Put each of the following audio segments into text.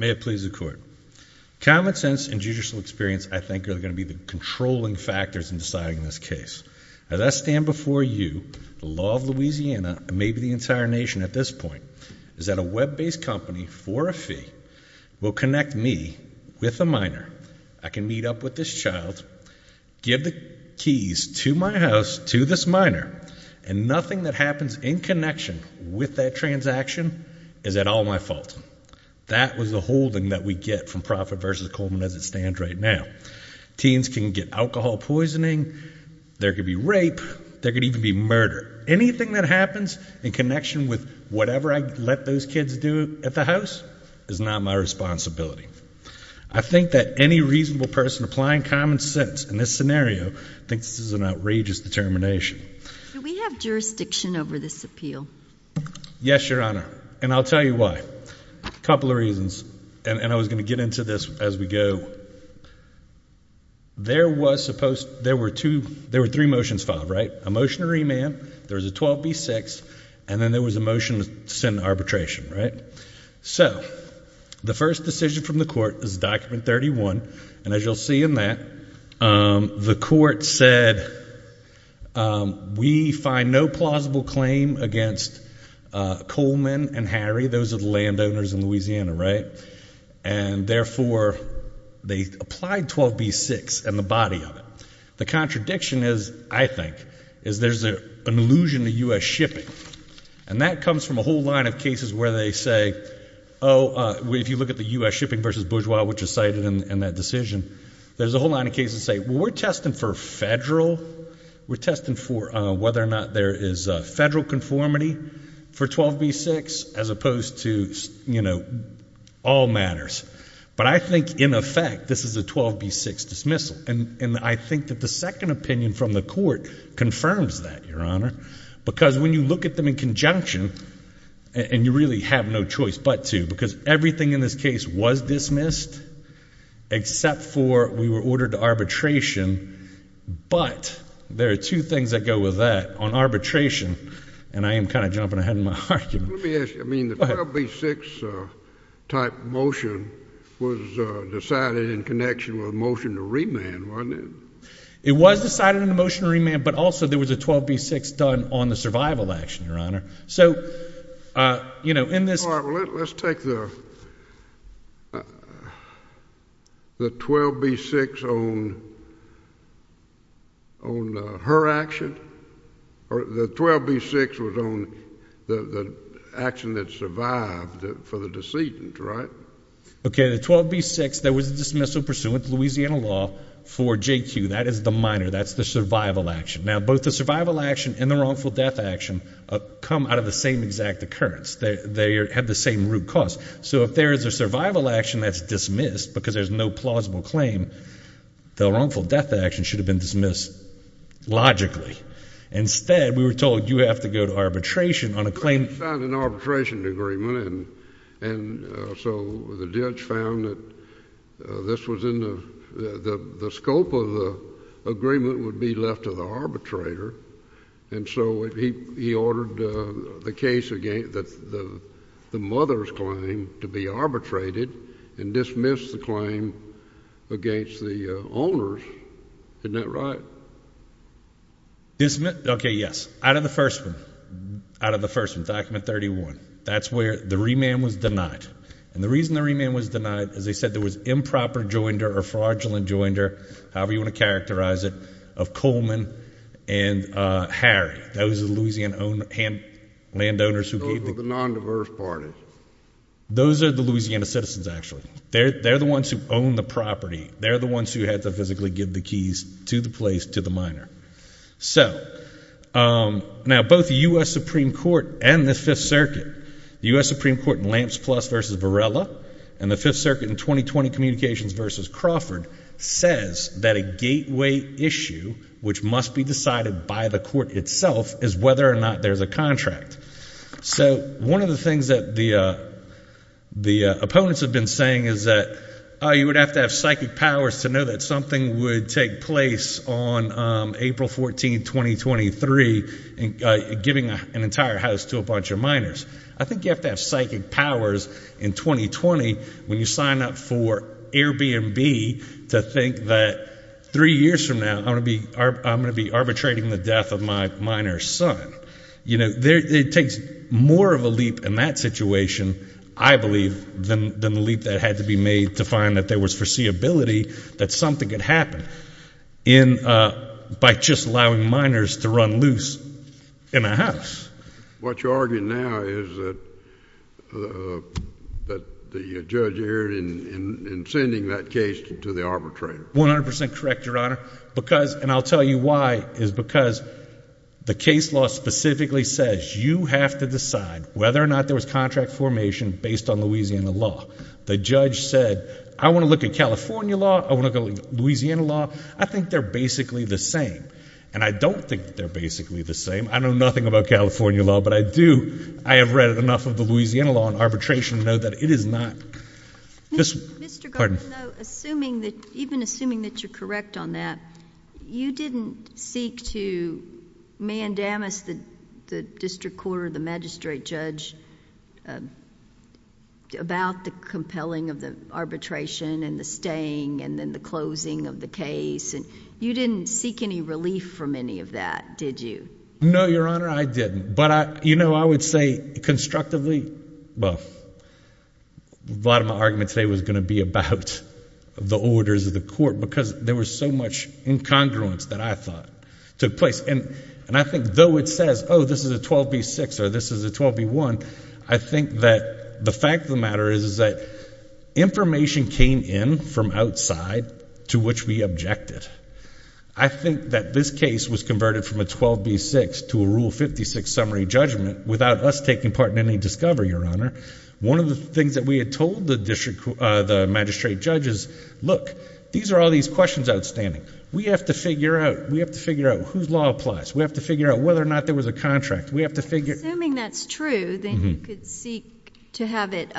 May it please the court, common sense and judicial experience I think are going to be the controlling factors in deciding this case. As I stand before you, the law of Louisiana, and maybe the entire nation at this point, is that a web-based company for a fee will connect me with a minor. I can meet up with this child, give the keys to my house to this minor, and nothing that happens in connection with that transaction is at all my fault. That was the holding that we get from Profit v. Coleman as it stands right now. Teens can get alcohol poisoning, there could be rape, there could even be murder. Anything that happens in connection with whatever I let those kids do at the house is not my responsibility. I think that any reasonable person applying common sense in this scenario thinks this is an outrageous determination. Do we have jurisdiction over this appeal? Yes, Your Honor, and I'll tell you why. A couple of reasons, and I was going to get into this as we go. There were three motions filed, a motion to remand, there was a 12b-6, and then there was a motion to send arbitration. The first decision from the court is document 31, and as you'll see in that, the court said we find no plausible claim against Coleman and Harry, those are the landowners in Louisiana, right? And therefore they applied 12b-6 and the body of it. The contradiction is, I think, is there's an illusion of U.S. shipping, and that comes from a whole line of cases where they say, oh, if you look at the U.S. shipping v. Bourgeois, which is cited in that decision, there's a whole line of cases that say, we're testing for federal, we're testing for whether or not there is federal conformity for 12b-6 as opposed to, you know, all matters. But I think in effect, this is a 12b-6 dismissal, and I think that the second opinion from the court confirms that, Your Honor, because when you look at them in conjunction, and you really have no choice but to, because everything in this case was dismissed except for we were ordered to arbitration, but there are two things that go with that on arbitration, and I am kind of jumping ahead in my argument. Let me ask you, I mean, the 12b-6 type motion was decided in connection with a motion to remand, wasn't it? It was decided in a motion to remand, but also there was a 12b-6 done on the survival action, Your Honor. So, you know, in this All right, well, let's take the 12b-6 on her action, or the 12b-6 was on the action that survived for the decedent, right? Okay, the 12b-6, there was a dismissal pursuant to Louisiana law for J.Q., that is the minor, that's the survival action. Now, both the survival action and the wrongful death action come out of the same exact occurrence. They have the same root cause. So if there is a survival action that's dismissed because there's no plausible claim, the wrongful death action should have been dismissed logically. Instead, we were told you have to go to arbitration on a claim We found an arbitration agreement, and so the judge found that this was in the scope of the agreement would be left to the arbitrator, and so he ordered the case against the mother's claim to be arbitrated and dismissed the claim against the owner's. Isn't that right? Okay, yes, out of the first one, out of the first one, document 31, that's where the remand was denied. And the reason the remand was denied, as I said, there was improper joinder or fraudulent joinder, however you want to characterize it, of Coleman and Harry. Those are the Louisiana landowners who gave the keys. Those were the non-diverse parties. Those are the Louisiana citizens, actually. They're the ones who own the property. They're the ones who had to physically give the keys to the place to the minor. So, now both the U.S. Supreme Court and the Fifth Circuit, the U.S. Supreme Court in Lamps Plus v. Varela, and the Fifth Circuit in 2020 Communications v. Crawford, says that a gateway issue, which must be decided by the court itself, is whether or not there's a contract. So, one of the things that the opponents have been saying is that you would have to have psychic powers to know that something would take place on April 14, 2023, giving an entire house to a bunch of minors. I think you have to have psychic powers in 2020 when you sign up for Airbnb to think that three years from now I'm going to be arbitrating the death of my minor's son. It takes more of a leap in that situation, I believe, than the leap that had to be made to find that there was foreseeability that something could happen by just allowing minors to run loose in a house. What you're arguing now is that the judge erred in sending that case to the arbitrator. 100% correct, Your Honor. Because, and I'll tell you why, is because the case law specifically says you have to decide whether or not there was contract formation based on Louisiana law. The judge said, I want to look at California law, I want to look at Louisiana law. I think they're basically the same. And I don't think they're basically the same. I know nothing about California law, but I do, I have read enough of the Louisiana law and arbitration to know that it is not. Mr. Gordon, even assuming that you're correct on that, you didn't seek to mandamus the district court or the magistrate judge about the compelling of the arbitration and the staying and then the closing of the case. You didn't seek any relief from any of that, did you? No, Your Honor, I didn't. But, you know, I would say constructively, well, a lot of my argument today was going to be about the orders of the court because there was so much incongruence that I thought took place. And I think though it says, oh, this is a 12B6 or this is a 12B1, I think that the fact of the matter is that information came in from outside to which we objected. I think that this case was converted from a 12B6 to a Rule 56 summary judgment without us taking part in any discovery, Your Honor. One of the things that we had told the magistrate judge is, look, these are all these questions outstanding. We have to figure out, we have to figure out whose law applies. We have to figure out whether or not there was a contract. Assuming that's true, then you could seek to have it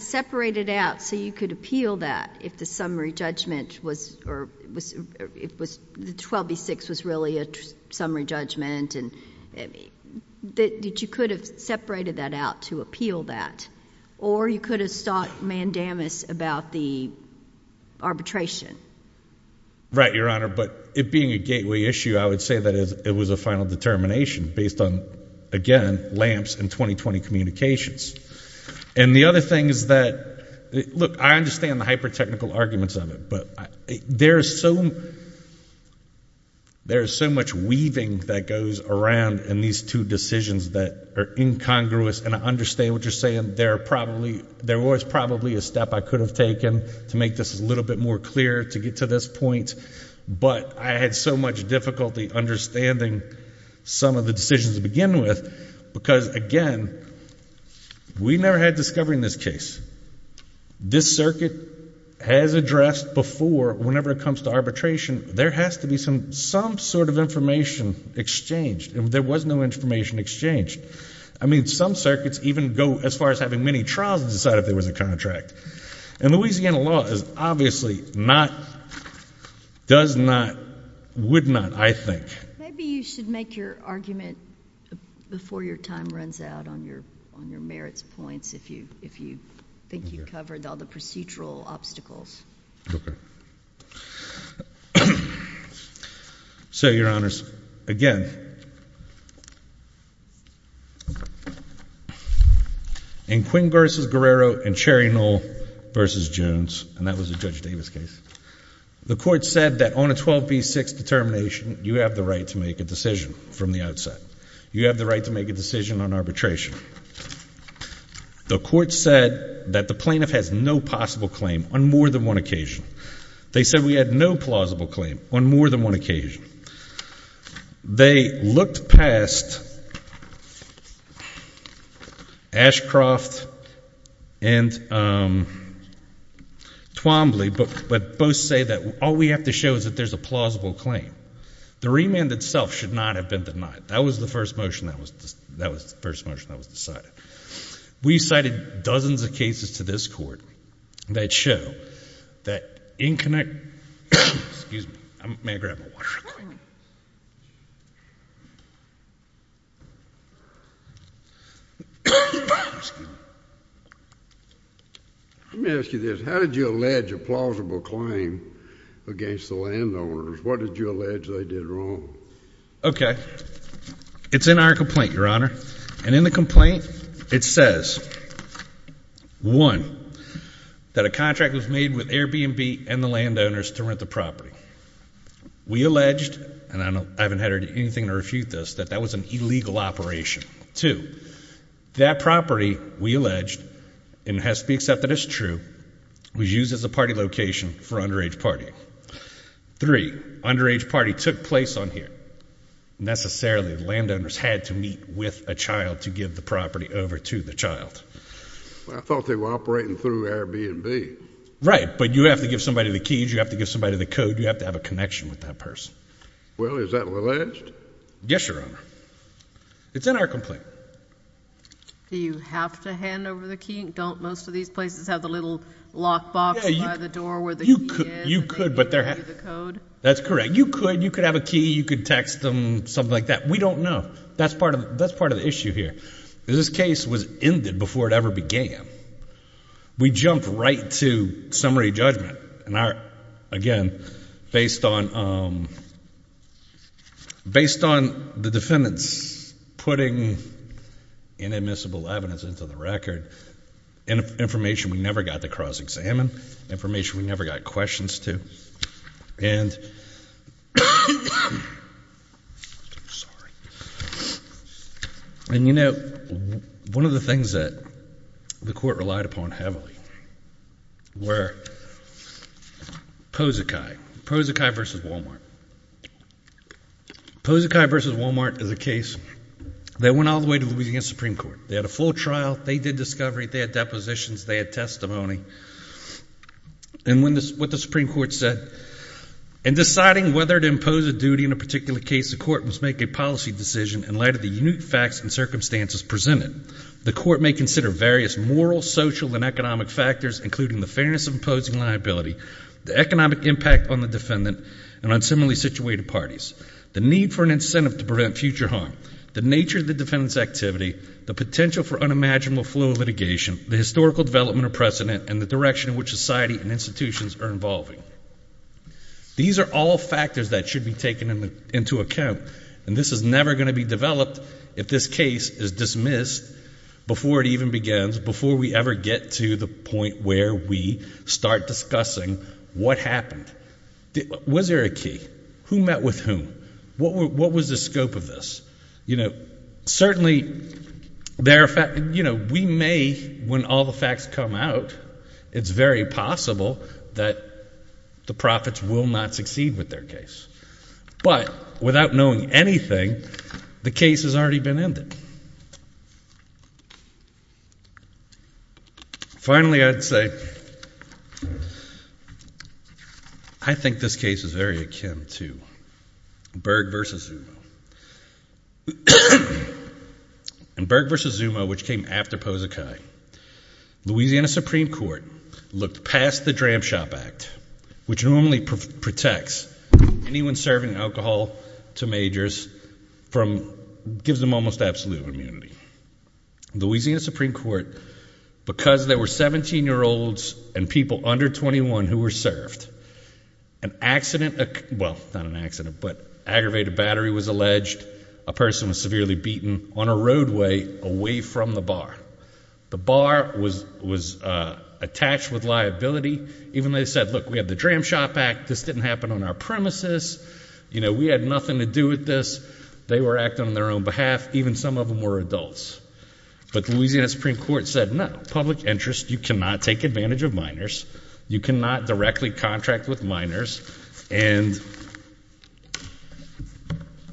separated out so you could appeal that if the summary judgment was or it was the 12B6 was really a summary judgment. And that you could have separated that out to appeal that. Or you could have sought mandamus about the arbitration. Right, Your Honor. But it being a gateway issue, I would say that it was a final determination based on, again, lamps and 20-20 communications. And the other thing is that, look, I understand the hyper-technical arguments of it. But there is so much weaving that goes around in these two decisions that are incongruous. And I understand what you're saying. There are probably, there was probably a step I could have taken to make this a little bit more clear to get to this point. But I had so much difficulty understanding some of the decisions to begin with. Because, again, we never had discovery in this case. This circuit has addressed before, whenever it comes to arbitration, there has to be some sort of information exchanged. There was no information exchanged. I mean, some circuits even go as far as having many trials and decide if there was a contract. And Louisiana law is obviously not, does not, would not, I think. Maybe you should make your argument before your time runs out on your merits points, if you think you covered all the procedural obstacles. Okay. So, Your Honors, again, in Quinn v. Guerrero and Cherry Knoll v. Jones, and that was a Judge Davis case, the Court said that on a 12B6 determination, you have the right to make a decision from the outset. You have the right to make a decision on arbitration. The Court said that the plaintiff has no possible claim on more than one occasion. They said we had no plausible claim on more than one occasion. They looked past Ashcroft and Twombly, but both say that all we have to show is that there's a plausible claim. The remand itself should not have been denied. That was the first motion that was decided. We cited dozens of cases to this Court that show that inconnect, excuse me, may I grab my water real quick? Let me ask you this. How did you allege a plausible claim against the landowners? What did you allege they did wrong? Okay. It's in our complaint, Your Honor. And in the complaint, it says, one, that a contract was made with Airbnb and the landowners to rent the property. We alleged, and I haven't had anything to refute this, that that was an illegal operation. Two, that property, we alleged, and it has to be accepted as true, was used as a party location for underage partying. Three, underage party took place on here. Necessarily, the landowners had to meet with a child to give the property over to the child. I thought they were operating through Airbnb. Right, but you have to give somebody the keys, you have to give somebody the code, you have to have a connection with that person. Well, is that alleged? Yes, Your Honor. It's in our complaint. Do you have to hand over the key? Don't most of these places have the little lock box by the door where the key is? You could, but they're not. That's correct. You could, you could have a key, you could text them, something like that. We don't know. That's part of the issue here. This case was ended before it ever began. We jumped right to summary judgment. And again, based on the defendants putting inadmissible evidence into the record, information we never got to cross-examine, information we never got questions to. And, you know, one of the things that the court relied upon heavily were Pozekai. Pozekai v. Walmart. Pozekai v. Walmart is a case that went all the way to Louisiana Supreme Court. They had a full trial. They did discovery. They had depositions. They had testimony. And what the Supreme Court said, in deciding whether to impose a duty in a particular case, the court must make a policy decision in light of the unique facts and circumstances presented. The court may consider various moral, social, and economic factors, including the fairness of imposing liability, the economic impact on the defendant, and on similarly situated parties, the need for an incentive to prevent future harm, the nature of the defendant's activity, the potential for unimaginable flow of litigation, the historical development of precedent, and the direction in which society and institutions are involving. These are all factors that should be taken into account. And this is never going to be developed if this case is dismissed before it even begins, before we ever get to the point where we start discussing what happened. Was there a key? Who met with whom? What was the scope of this? Certainly, we may, when all the facts come out, it's very possible that the profits will not succeed with their case. But without knowing anything, the case has already been ended. Finally, I'd say I think this case is very akin to Berg v. Zuma. In Berg v. Zuma, which came after Pozekai, Louisiana Supreme Court looked past the Dram Shop Act, which normally protects anyone serving alcohol to majors from gives them almost absolute immunity. Louisiana Supreme Court, because there were 17-year-olds and people under 21 who were served, an accident, well, not an accident, but aggravated battery was alleged. A person was severely beaten on a roadway away from the bar. The bar was attached with liability. Even though they said, look, we have the Dram Shop Act. This didn't happen on our premises. We had nothing to do with this. They were acting on their own behalf. Even some of them were adults. But Louisiana Supreme Court said, no, public interest. You cannot take advantage of minors. You cannot directly contract with minors and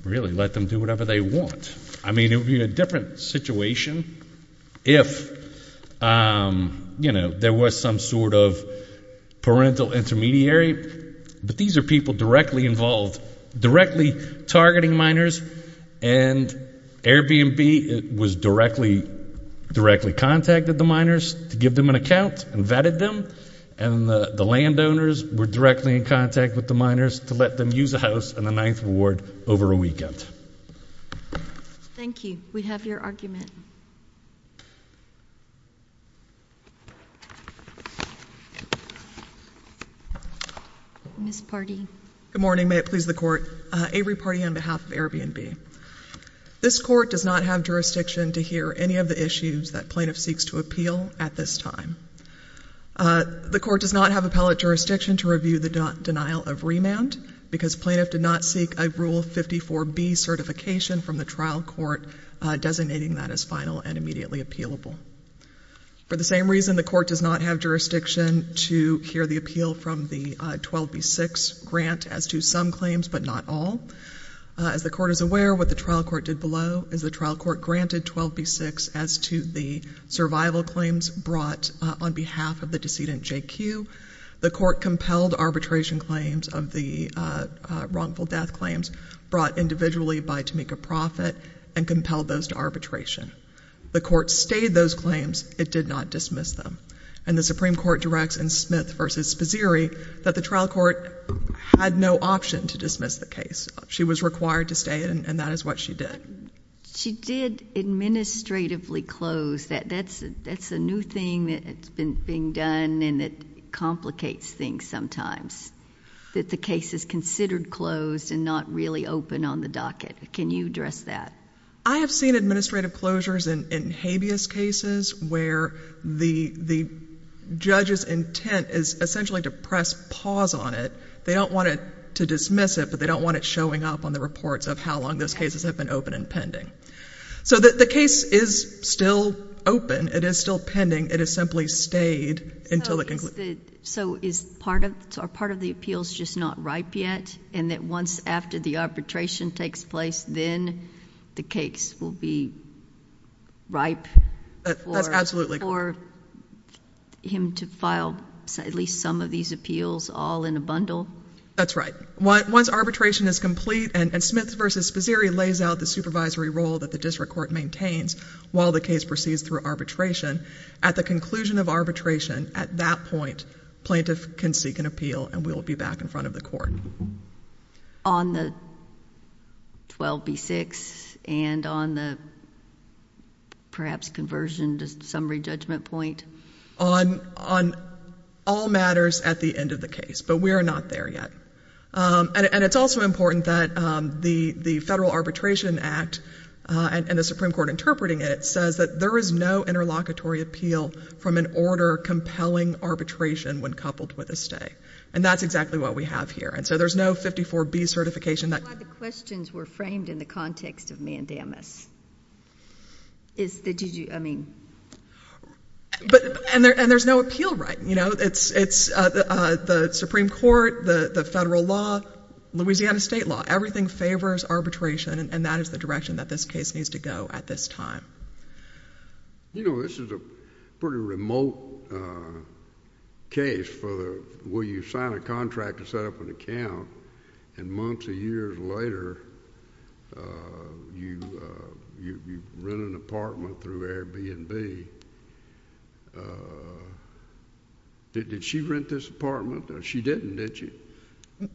really let them do whatever they want. I mean, it would be a different situation if, you know, there was some sort of parental intermediary. But these are people directly involved, directly targeting minors. And Airbnb was directly contacted the minors to give them an account and vetted them. And the landowners were directly in contact with the minors to let them use a house in the 9th Ward over a weekend. Thank you. We have your argument. Ms. Pardee. Good morning. May it please the Court. Avery Pardee on behalf of Airbnb. This Court does not have jurisdiction to hear any of the issues that plaintiff seeks to appeal at this time. The Court does not have appellate jurisdiction to review the denial of remand because plaintiff did not seek a Rule 54B certification from the trial court, designating that as final and immediately appealable. For the same reason, the Court does not have jurisdiction to hear the appeal from the 12B6 grant as to some claims but not all. As the Court is aware, what the trial court did below is the trial court granted 12B6 as to the survival claims brought on behalf of the decedent, J.Q. The Court compelled arbitration claims of the wrongful death claims brought individually by Tamika Proffitt and compelled those to arbitration. The Court stayed those claims. It did not dismiss them. And the Supreme Court directs in Smith v. Spizzeri that the trial court had no option to dismiss the case. She was required to stay, and that is what she did. But she did administratively close. That's a new thing that's being done, and it complicates things sometimes, that the case is considered closed and not really open on the docket. Can you address that? I have seen administrative closures in habeas cases where the judge's intent is essentially to press pause on it. They don't want to dismiss it, but they don't want it showing up on the reports of how long those cases have been open and pending. So the case is still open. It is still pending. It has simply stayed until the conclusion. So are part of the appeals just not ripe yet, and that once after the arbitration takes place, then the case will be ripe for him to file at least some of these appeals all in a bundle? That's right. Once arbitration is complete and Smith v. Spizzeri lays out the supervisory role that the district court maintains while the case proceeds through arbitration, at the conclusion of arbitration, at that point, plaintiff can seek an appeal, and we'll be back in front of the court. On the 12B6 and on the perhaps conversion to summary judgment point? On all matters at the end of the case, but we are not there yet. And it's also important that the Federal Arbitration Act and the Supreme Court interpreting it says that there is no interlocutory appeal from an order compelling arbitration when coupled with a stay, and that's exactly what we have here. And so there's no 54B certification. That's why the questions were framed in the context of mandamus. And there's no appeal right. It's the Supreme Court, the federal law, Louisiana state law. Everything favors arbitration, and that is the direction that this case needs to go at this time. You know, this is a pretty remote case for where you sign a contract and set up an account, and months or years later you rent an apartment through Airbnb. Did she rent this apartment? She didn't, did she?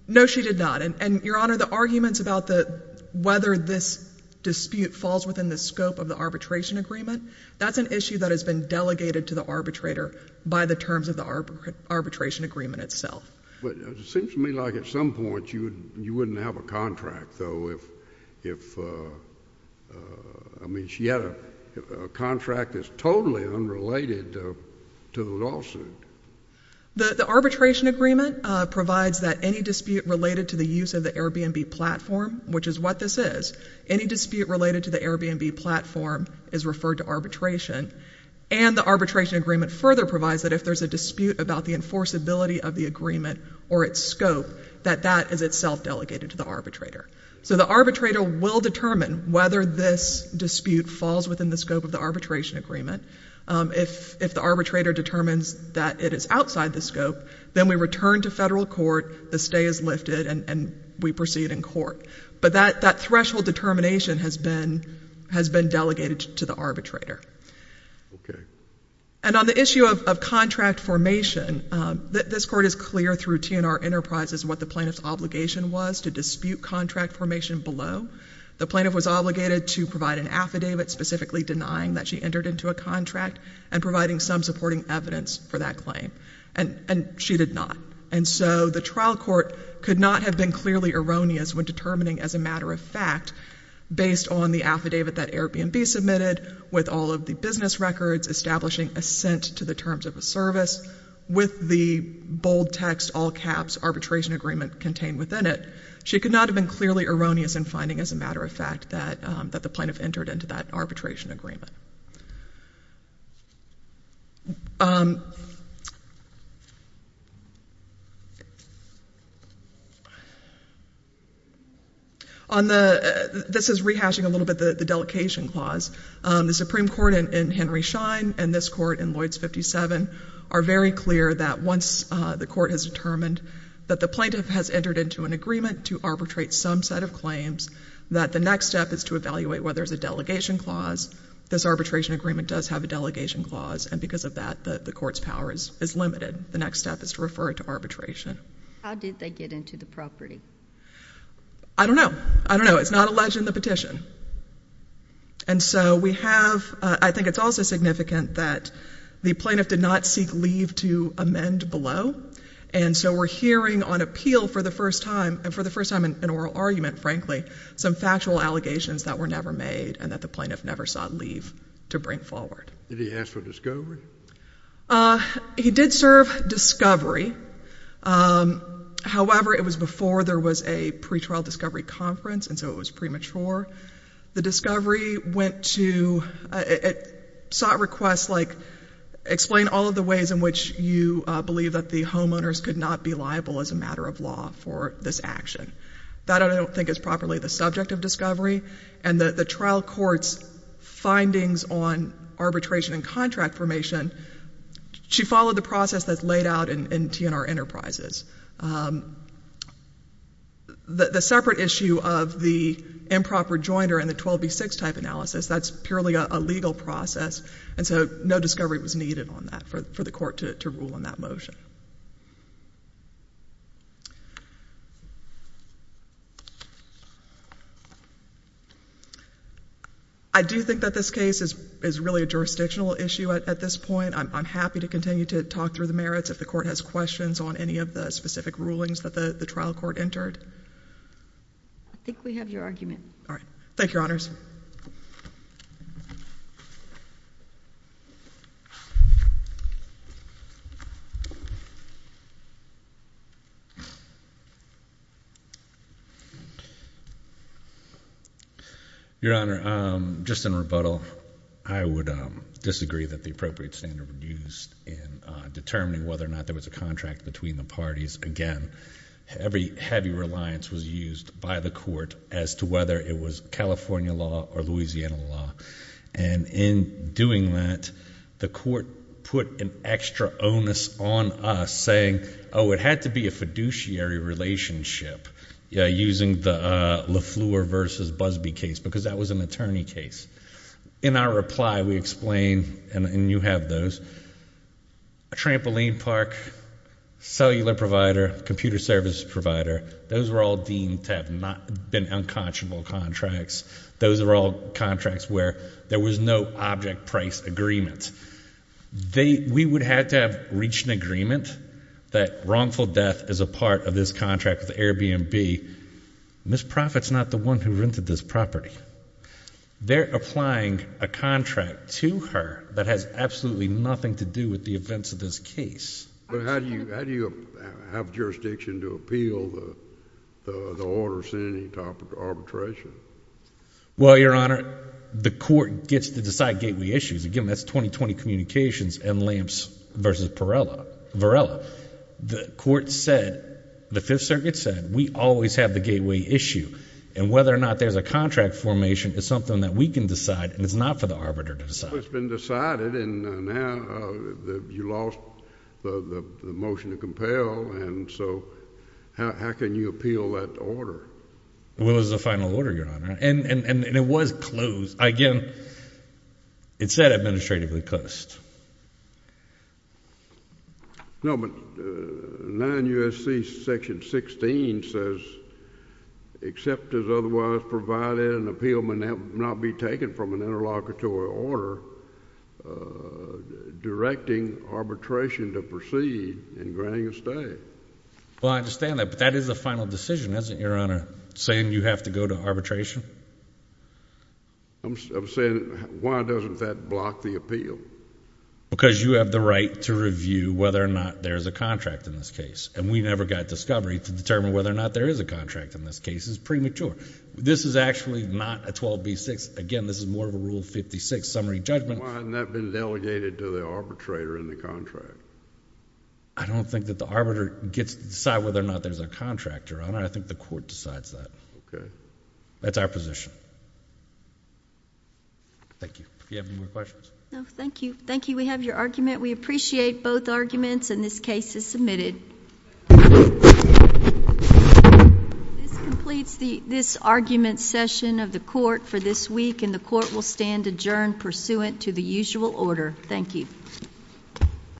No, she did not. And, Your Honor, the arguments about whether this dispute falls within the scope of the arbitration agreement, that's an issue that has been delegated to the arbitrator by the terms of the arbitration agreement itself. But it seems to me like at some point you wouldn't have a contract, though, if, I mean, she had a contract that's totally unrelated to the lawsuit. The arbitration agreement provides that any dispute related to the use of the Airbnb platform, which is what this is, any dispute related to the Airbnb platform is referred to arbitration, and the arbitration agreement further provides that if there's a dispute about the enforceability of the agreement or its scope, that that is itself delegated to the arbitrator. So the arbitrator will determine whether this dispute falls within the scope of the arbitration agreement. If the arbitrator determines that it is outside the scope, then we return to federal court, the stay is lifted, and we proceed in court. But that threshold determination has been delegated to the arbitrator. Okay. And on the issue of contract formation, this Court is clear through TNR Enterprises what the plaintiff's obligation was to dispute contract formation below. The plaintiff was obligated to provide an affidavit specifically denying that she entered into a contract and providing some supporting evidence for that claim, and she did not. And so the trial court could not have been clearly erroneous when determining as a matter of fact, based on the affidavit that Airbnb submitted, with all of the business records, establishing assent to the terms of a service, with the bold text, all caps, arbitration agreement contained within it. She could not have been clearly erroneous in finding as a matter of fact that the plaintiff entered into that arbitration agreement. On the ‑‑ this is rehashing a little bit the delegation clause. The Supreme Court in Henry Schein and this Court in Lloyds 57 are very clear that once the court has determined that the plaintiff has entered into an agreement to arbitrate some set of claims, that the next step is to evaluate whether there's a delegation clause. This arbitration agreement does have a delegation clause, and because of that, the court's power is limited. The next step is to refer it to arbitration. How did they get into the property? I don't know. I don't know. It's not alleged in the petition. And so we have ‑‑ I think it's also significant that the plaintiff did not seek leave to amend below, and so we're hearing on appeal for the first time, and for the first time in oral argument, frankly, some factual allegations that were never made and that the plaintiff never sought leave to bring forward. Did he ask for discovery? He did serve discovery. However, it was before there was a pretrial discovery conference, and so it was premature. The discovery went to ‑‑ it sought requests like explain all of the ways in which you believe that the homeowners could not be liable as a matter of law for this action. That I don't think is properly the subject of discovery, and the trial court's findings on arbitration and contract formation, she followed the process that's laid out in TNR Enterprises. The separate issue of the improper jointer and the 12B6 type analysis, that's purely a legal process, and so no discovery was needed on that for the court to rule on that motion. I do think that this case is really a jurisdictional issue at this point. I'm happy to continue to talk through the merits if the court has questions on any of the specific rulings that the trial court entered. I think we have your argument. All right. Thank you, Your Honors. Your Honor, just in rebuttal, I would disagree that the appropriate standard was used in determining whether or not there was a contract between the parties. Again, every heavy reliance was used by the court as to whether it was California law or Louisiana law, and in doing that, the court put an extra onus on us saying, oh, it had to be a fiduciary relationship using the LeFleur versus Busby case, because that was an attorney case. In our reply, we explained, and you have those, a trampoline park, cellular provider, computer service provider, those were all deemed to have been unconscionable contracts. Those were all contracts where there was no object price agreement. We would have to have reached an agreement that wrongful death is a part of this contract with Airbnb. Ms. Profitt's not the one who rented this property. They're applying a contract to her that has absolutely nothing to do with the events of this case. But how do you have jurisdiction to appeal the order sending to arbitration? Well, Your Honor, the court gets to decide gateway issues. Again, that's 2020 Communications and Lamps versus Varela. The court said, the Fifth Circuit said, we always have the gateway issue, and whether or not there's a contract formation is something that we can decide, and it's not for the arbiter to decide. Well, that's what's been decided, and now you lost the motion to compel, and so how can you appeal that order? Well, it was the final order, Your Honor, and it was closed. Again, it said administratively closed. No, but 9 U.S.C. Section 16 says, except as otherwise provided an appeal may not be taken from an interlocutory order directing arbitration to proceed in granting a stay. Well, I understand that, but that is a final decision, isn't it, Your Honor, saying you have to go to arbitration? I'm saying why doesn't that block the appeal? Because you have the right to review whether or not there's a contract in this case, and we never got discovery to determine whether or not there is a contract in this case. It's premature. This is actually not a 12b-6. Again, this is more of a Rule 56 summary judgment. Why hasn't that been delegated to the arbitrator in the contract? I don't think that the arbiter gets to decide whether or not there's a contract, Your Honor. I think the court decides that. Okay. That's our position. Thank you. Do you have any more questions? No, thank you. Thank you. We have your argument. We appreciate both arguments, and this case is submitted. This completes this argument session of the court for this week, and the court will stand adjourned pursuant to the usual order. Thank you.